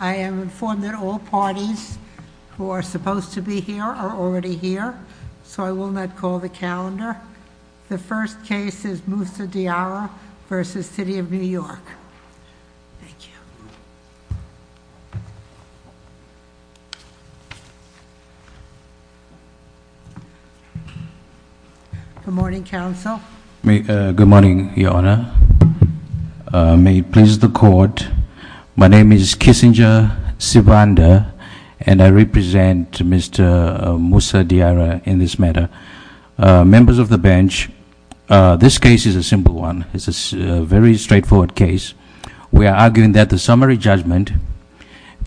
I am informed that all parties who are supposed to be here are already here, so I will not call the calendar. The first case is Moussa Diarra v. City of New York. Thank you. Good morning, counsel. May it please the court. My name is Kissinger Sivanda, and I represent Mr. Moussa Diarra in this matter. Members of the bench, this case is a simple one. It's a very straightforward case. We are arguing that the summary judgment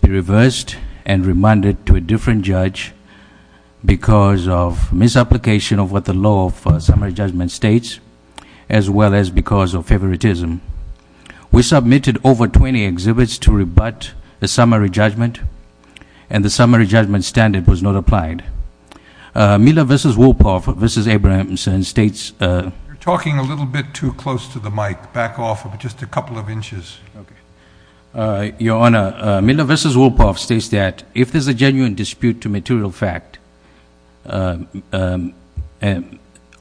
be reversed and remanded to a different judge because of misapplication of what the law for summary judgment states, as well as because of favoritism. We submitted over 20 exhibits to rebut the summary judgment, and the summary judgment standard was not applied. Miller v. Wolpoff v. Abrahamson states- You're talking a little bit too close to the mic. Back off just a couple of inches. Okay. Your Honor, Miller v. Wolpoff states that if there's a genuine dispute to material fact,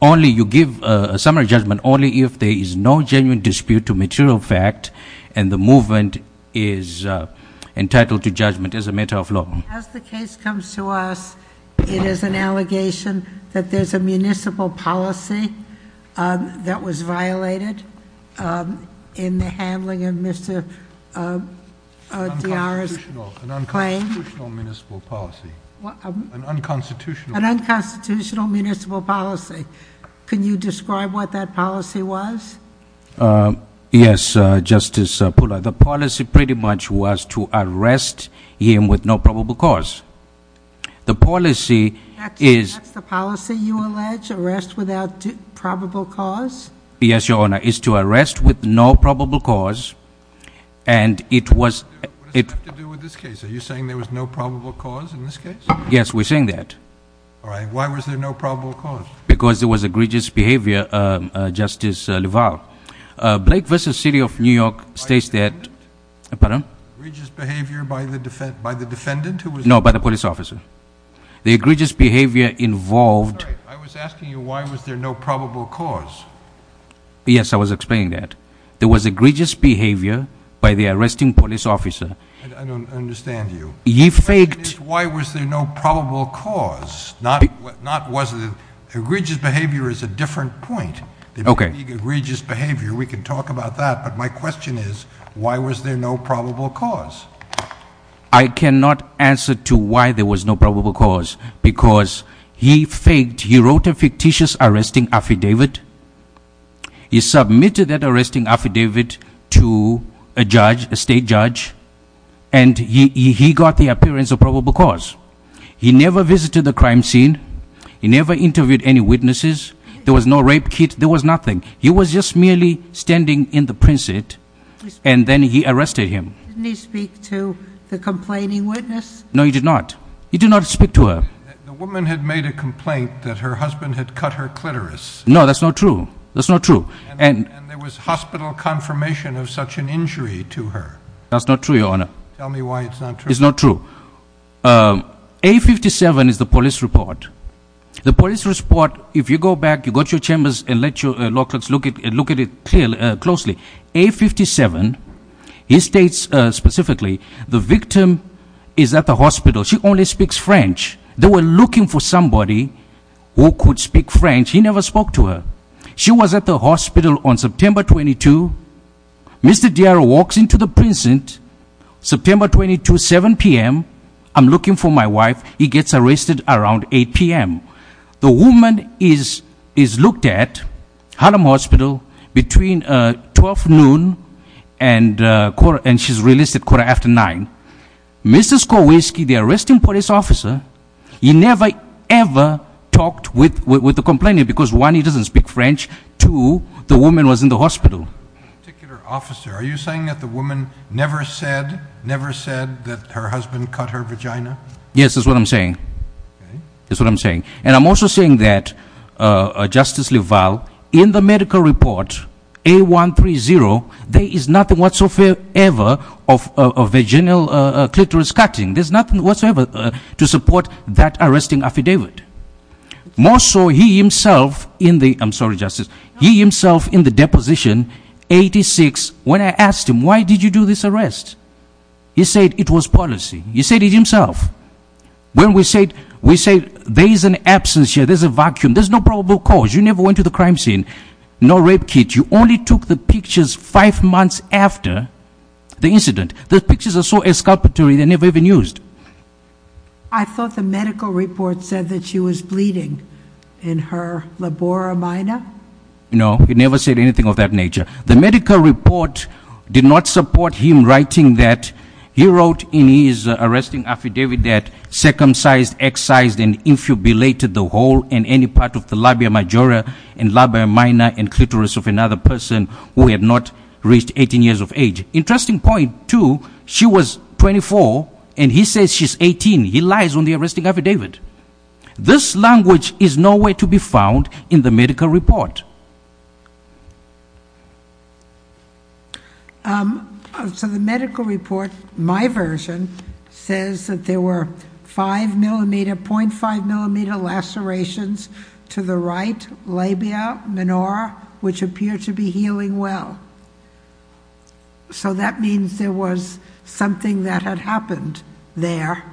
only you give a summary judgment only if there is no genuine dispute to material fact, and the movement is entitled to judgment as a matter of law. As the case comes to us, it is an allegation that there's a municipal policy that was violated in the handling of Mr. Diarra's claim. An unconstitutional municipal policy. An unconstitutional- An unconstitutional municipal policy. Can you describe what that policy was? Yes, Justice Pula. The policy pretty much was to arrest him with no probable cause. The policy is- That's the policy you allege, arrest without probable cause? Yes, Your Honor, is to arrest with no probable cause, and it was- What does that have to do with this case? Are you saying there was no probable cause in this case? Yes, we're saying that. All right, why was there no probable cause? Because there was egregious behavior, Justice Leval. Blake v. City of New York states that- By the defendant? Pardon? Egregious behavior by the defendant who was- No, by the police officer. The egregious behavior involved- I'm sorry, I was asking you why was there no probable cause? Yes, I was explaining that. There was egregious behavior by the arresting police officer. I don't understand you. He faked- My question is why was there no probable cause? Not was it- Egregious behavior is a different point. Okay. Egregious behavior, we can talk about that, but my question is why was there no probable cause? I cannot answer to why there was no probable cause because he faked, he wrote a fictitious arresting affidavit. He submitted that arresting affidavit to a judge, a state judge, and he got the appearance of probable cause. He never visited the crime scene, he never interviewed any witnesses, there was no rape kit, there was nothing. He was just merely standing in the princet, and then he arrested him. Didn't he speak to the complaining witness? No, he did not. He did not speak to her. The woman had made a complaint that her husband had cut her clitoris. No, that's not true. That's not true. And there was hospital confirmation of such an injury to her. That's not true, your honor. Tell me why it's not true. It's not true. A57 is the police report. The police report, if you go back, you go to your chambers and let your law clerks look at it closely. A57, he states specifically, the victim is at the hospital. She only speaks French. They were looking for somebody who could speak French. He never spoke to her. She was at the hospital on September 22. Mr. Dier walks into the princet, September 22, 7 PM. I'm looking for my wife. He gets arrested around 8 PM. The woman is looked at Harlem Hospital between 12 noon and she's released at quarter after nine. Mrs. Kowalski, the arresting police officer, he never, ever talked with the complainant. Because one, he doesn't speak French. Two, the woman was in the hospital. Particular officer, are you saying that the woman never said that her husband cut her vagina? Yes, that's what I'm saying. That's what I'm saying. And I'm also saying that, Justice Leval, in the medical report, A130, there is nothing whatsoever of a vaginal clitoris cutting. There's nothing whatsoever to support that arresting affidavit. More so, he himself in the, I'm sorry, Justice. He himself in the deposition, 86, when I asked him, why did you do this arrest? He said it was policy. He said it himself. When we say there is an absence here, there's a vacuum, there's no probable cause. You never went to the crime scene. No rape kits. You only took the pictures five months after the incident. Those pictures are so exculpatory, they're never even used. I thought the medical report said that she was bleeding in her labora minor. No, he never said anything of that nature. The medical report did not support him writing that he wrote in his arresting affidavit that he circumcised, excised, and infibulated the hole in any part of the labia majora and labia minor and clitoris of another person who had not reached 18 years of age. Interesting point, too, she was 24 and he says she's 18. He lies on the arresting affidavit. This language is nowhere to be found in the medical report. So the medical report, my version, says that there were 0.5 millimeter lacerations to the right labia minora, which appear to be healing well. So that means there was something that had happened there,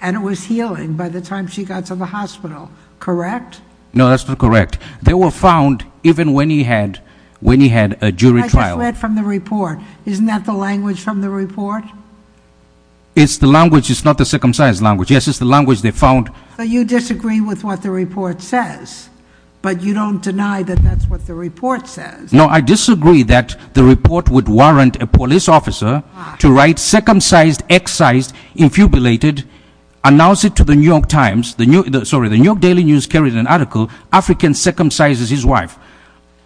and it was healing by the time she got to the hospital, correct? No, that's not correct. They were found even when he had a jury trial. I just read from the report. Isn't that the language from the report? It's the language, it's not the circumcised language. Yes, it's the language they found. But you disagree with what the report says, but you don't deny that that's what the report says. No, I disagree that the report would warrant a police officer to write circumcised, excised, infubulated, announce it to the New York Times, sorry, the New York Daily News carried an article, African circumcises his wife.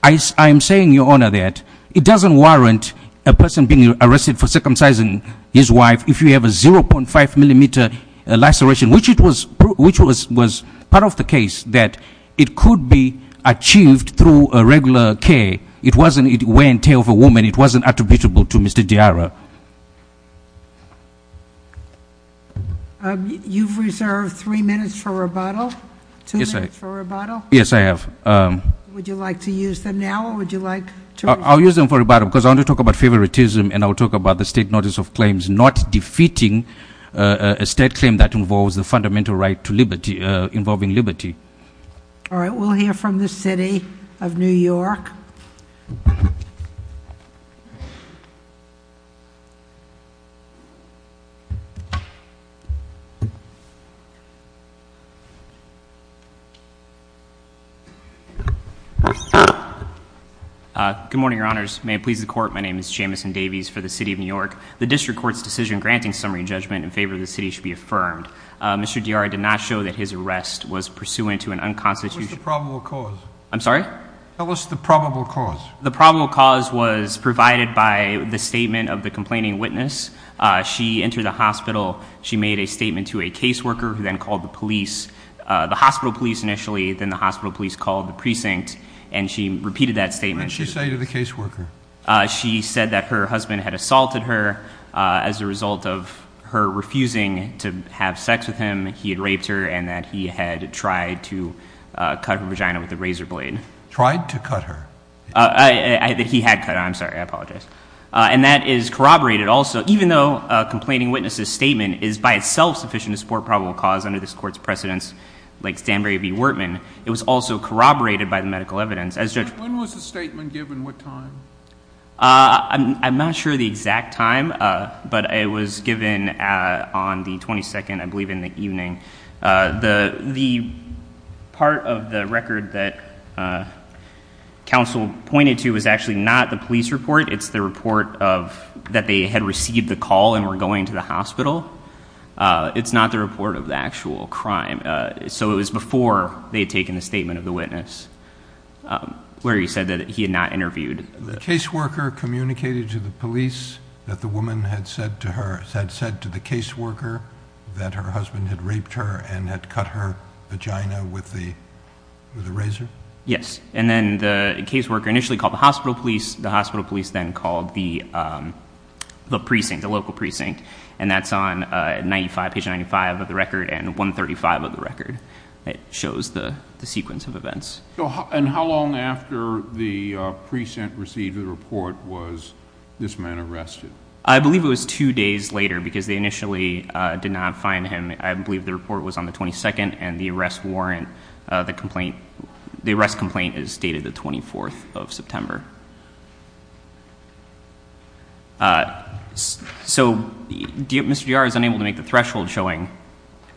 I am saying, Your Honor, that it doesn't warrant a person being arrested for circumcising his wife if you have a 0.5 millimeter laceration, which was part of the case, that it could be achieved through a regular care. It wasn't a way and tale of a woman. It wasn't attributable to Mr. Diarra. You've reserved three minutes for rebuttal. Two minutes for rebuttal. Yes, I have. Would you like to use them now, or would you like to- I'll use them for rebuttal, because I want to talk about favoritism, and I'll talk about the state notice of claims not defeating a state claim that involves the fundamental right to liberty, involving liberty. All right, we'll hear from the city of New York. Good morning, your honors. May it please the court, my name is Jamison Davies for the city of New York. The district court's decision granting summary judgment in favor of the city should be affirmed. Mr. Diarra did not show that his arrest was pursuant to an unconstitutional- What was the probable cause? I'm sorry? Tell us the probable cause. The probable cause was provided by the statement of the complaining witness. She entered the hospital, she made a statement to a case worker, who then called the police, the hospital police initially, then the hospital police called the precinct, and she repeated that statement. What did she say to the case worker? She said that her husband had assaulted her as a result of her refusing to have sex with him. He had raped her, and that he had tried to cut her vagina with a razor blade. Tried to cut her? He had cut her, I'm sorry, I apologize. And that is corroborated also, even though a complaining witness' statement is by itself sufficient to support probable cause under this court's precedence, like Stanbury v. Wertman. It was also corroborated by the medical evidence. As judge- When was the statement given? What time? I'm not sure the exact time, but it was given on the 22nd, I believe, in the evening. The part of the record that counsel pointed to was actually not the police report. It's the report of, that they had received the call and were going to the hospital. It's not the report of the actual crime. So it was before they had taken the statement of the witness, where he said that he had not interviewed. The case worker communicated to the police that the woman had said to the case worker that her husband had raped her and had cut her vagina with a razor? Yes, and then the case worker initially called the hospital police. The hospital police then called the precinct, the local precinct. And that's on page 95 of the record and 135 of the record. It shows the sequence of events. And how long after the precinct received the report was this man arrested? I believe it was two days later, because they initially did not find him. I believe the report was on the 22nd, and the arrest warrant, the arrest complaint is dated the 24th of September. So Mr. Girard is unable to make the threshold showing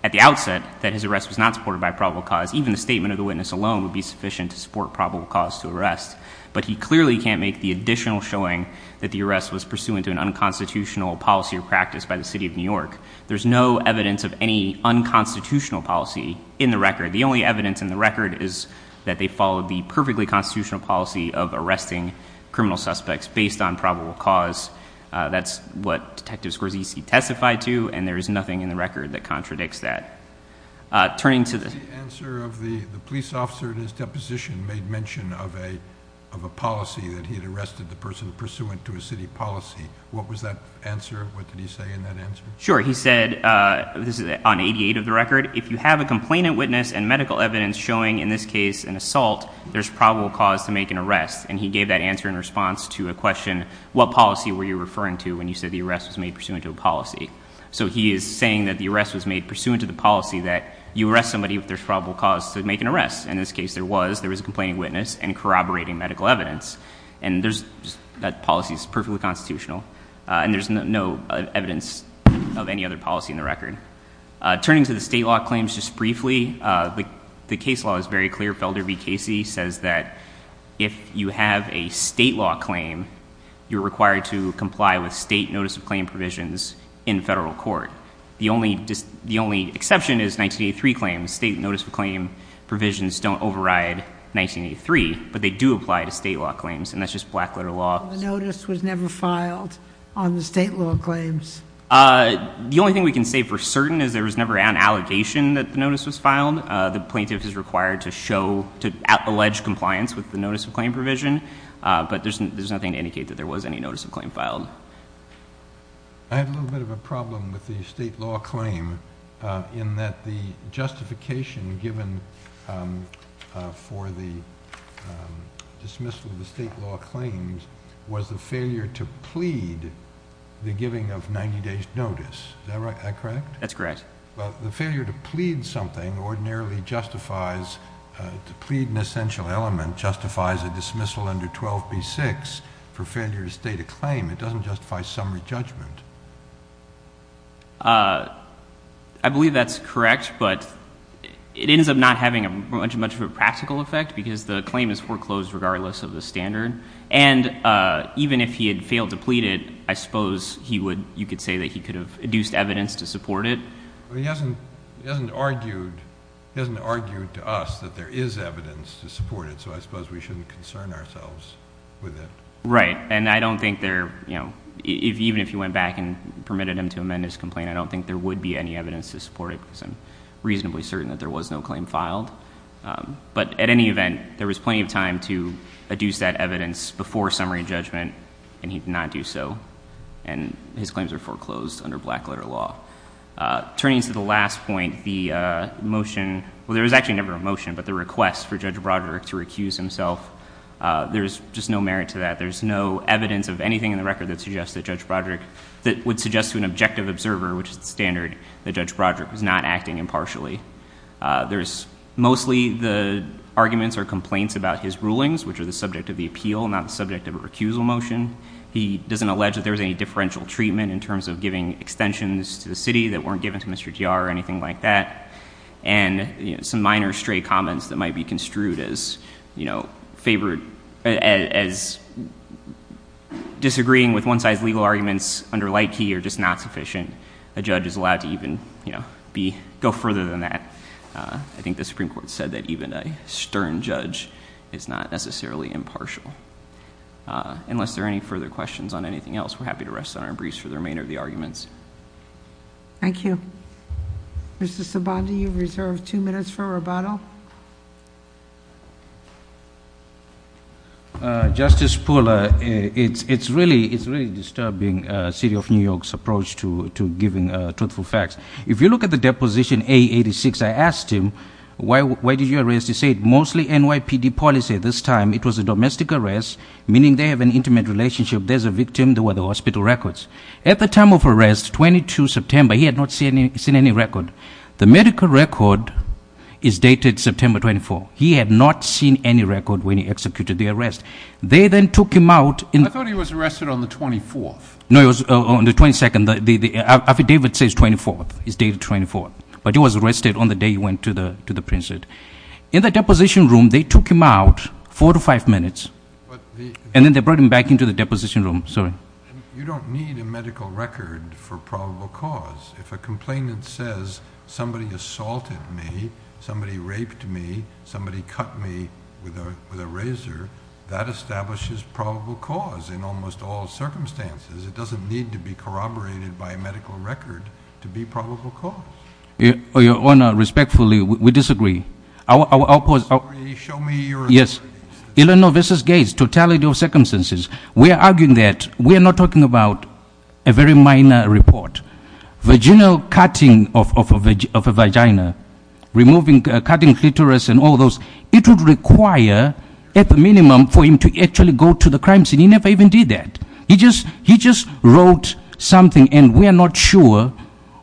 at the outset that his arrest was not supported by probable cause. Even the statement of the witness alone would be sufficient to support probable cause to arrest. But he clearly can't make the additional showing that the arrest was pursuant to an unconstitutional policy or practice by the city of New York. There's no evidence of any unconstitutional policy in the record. The only evidence in the record is that they followed the perfectly constitutional policy of arresting criminal suspects based on probable cause. That's what Detective Scorsese testified to, and there is nothing in the record that contradicts that. Turning to the- The answer of the police officer in his deposition made mention of a policy that he had arrested the person pursuant to a city policy. What was that answer? What did he say in that answer? Sure, he said, this is on 88 of the record, if you have a complainant witness and medical evidence showing in this case an assault, there's probable cause to make an arrest. And he gave that answer in response to a question, what policy were you referring to when you said the arrest was made pursuant to a policy? So he is saying that the arrest was made pursuant to the policy that you arrest somebody if there's probable cause to make an arrest. In this case there was, there was a complaining witness and corroborating medical evidence. And that policy is perfectly constitutional. And there's no evidence of any other policy in the record. Turning to the state law claims just briefly, the case law is very clear. Felder v Casey says that if you have a state law claim, you're required to comply with state notice of claim provisions in federal court. The only exception is 1983 claims. State notice of claim provisions don't override 1983, but they do apply to state law claims, and that's just black letter law. The notice was never filed on the state law claims. The only thing we can say for certain is there was never an allegation that the notice was filed. The plaintiff is required to show, to allege compliance with the notice of claim provision. But there's nothing to indicate that there was any notice of claim filed. I have a little bit of a problem with the state law claim, in that the justification given for the dismissal of the state law claims was the failure to plead the giving of 90 days notice. Is that correct? That's correct. But the failure to plead something ordinarily justifies, to plead an essential element, justifies a dismissal under 12B6 for failure to state a claim. It doesn't justify summary judgment. I believe that's correct, but it ends up not having much of a practical effect because the claim is foreclosed regardless of the standard. And even if he had failed to plead it, I suppose you could say that he could have induced evidence to support it. He hasn't argued to us that there is evidence to support it, so I suppose we shouldn't concern ourselves with it. Right, and I don't think there, even if he went back and permitted him to amend his complaint, I don't think there would be any evidence to support it because I'm reasonably certain that there was no claim filed. But at any event, there was plenty of time to adduce that evidence before summary judgment, and he did not do so. And his claims are foreclosed under black letter law. Turning to the last point, the motion, well there was actually never a motion, but the request for Judge Broderick to recuse himself. There's just no merit to that. There's no evidence of anything in the record that would suggest to an objective observer, which is the standard, that Judge Broderick was not acting impartially. There's mostly the arguments or complaints about his rulings, which are the subject of the appeal, not the subject of a recusal motion. He doesn't allege that there was any differential treatment in terms of giving extensions to the city that weren't given to Mr. HDR or anything like that, and some minor stray comments that might be construed as disagreeing with one size legal arguments under light key are just not sufficient. A judge is allowed to even go further than that. I think the Supreme Court said that even a stern judge is not necessarily impartial. Unless there are any further questions on anything else, we're happy to rest on our briefs for the remainder of the arguments. Thank you. Mr. Sabandi, you've reserved two minutes for rebuttal. Justice Pooler, it's really disturbing City of New York's approach to giving truthful facts. If you look at the deposition A86, I asked him, why did you arrest? He said, mostly NYPD policy. This time, it was a domestic arrest, meaning they have an intimate relationship. There's a victim, there were the hospital records. At the time of arrest, 22 September, he had not seen any record. The medical record is dated September 24th. He had not seen any record when he executed the arrest. They then took him out in- I thought he was arrested on the 24th. No, it was on the 22nd, the affidavit says 24th, it's dated 24th. But he was arrested on the day he went to the prison. In the deposition room, they took him out four to five minutes, and then they brought him back into the deposition room, sorry. You don't need a medical record for probable cause. If a complainant says, somebody assaulted me, somebody raped me, somebody cut me with a razor, that establishes probable cause in almost all circumstances. It doesn't need to be corroborated by a medical record to be probable cause. Your Honor, respectfully, we disagree. Our- I'm sorry, show me your- Yes, Eleanor versus Gates, totality of circumstances. We are arguing that we are not talking about a very minor report. Vaginal cutting of a vagina, removing, cutting clitoris and all those, it would require, at the minimum, for him to actually go to the crime scene. He never even did that. He just wrote something, and we are not sure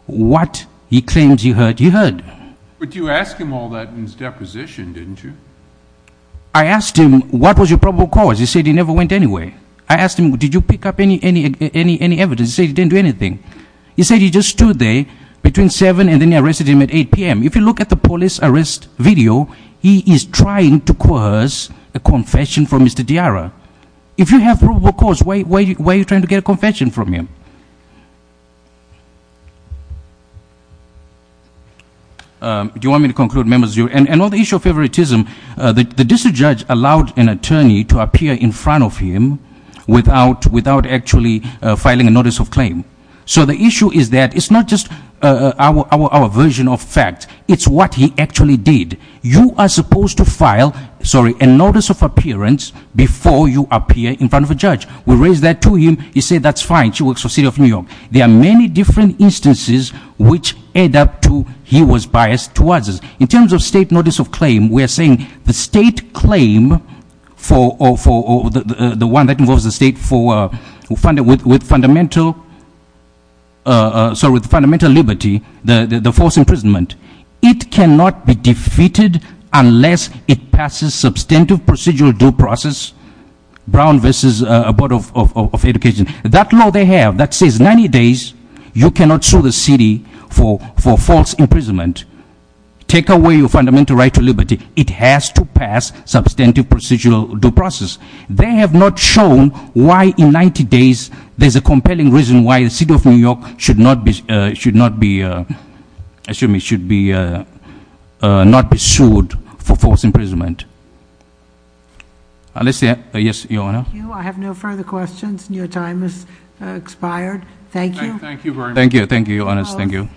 what he claims he heard. He heard. But you asked him all that in his deposition, didn't you? I asked him, what was your probable cause? He said he never went anywhere. I asked him, did you pick up any evidence? He said he didn't do anything. He said he just stood there between 7 and then he arrested him at 8 PM. If you look at the police arrest video, he is trying to coerce a confession from Mr. Diara. If you have probable cause, why are you trying to get a confession from him? Do you want me to conclude, members? Another issue of favoritism, the district judge allowed an attorney to appear in front of him without actually filing a notice of claim. So the issue is that it's not just our version of fact, it's what he actually did. You are supposed to file a notice of appearance before you appear in front of a judge. We raise that to him, he said that's fine, she works for City of New York. There are many different instances which add up to he was biased towards us. In terms of state notice of claim, we are saying the state claim, the one that involves the state with fundamental liberty, the forced imprisonment, it cannot be defeated unless it passes substantive procedural due process, Brown v. Board of Education. That law they have that says 90 days, you cannot sue the city for false imprisonment. Take away your fundamental right to liberty. It has to pass substantive procedural due process. They have not shown why in 90 days, there's a compelling reason why the City of New York should not be, should not be, excuse me, should not be sued for false imprisonment. Let's see, yes, Your Honor. Thank you, I have no further questions. Your time has expired. Thank you. Thank you very much. Thank you, thank you, Your Honors, thank you.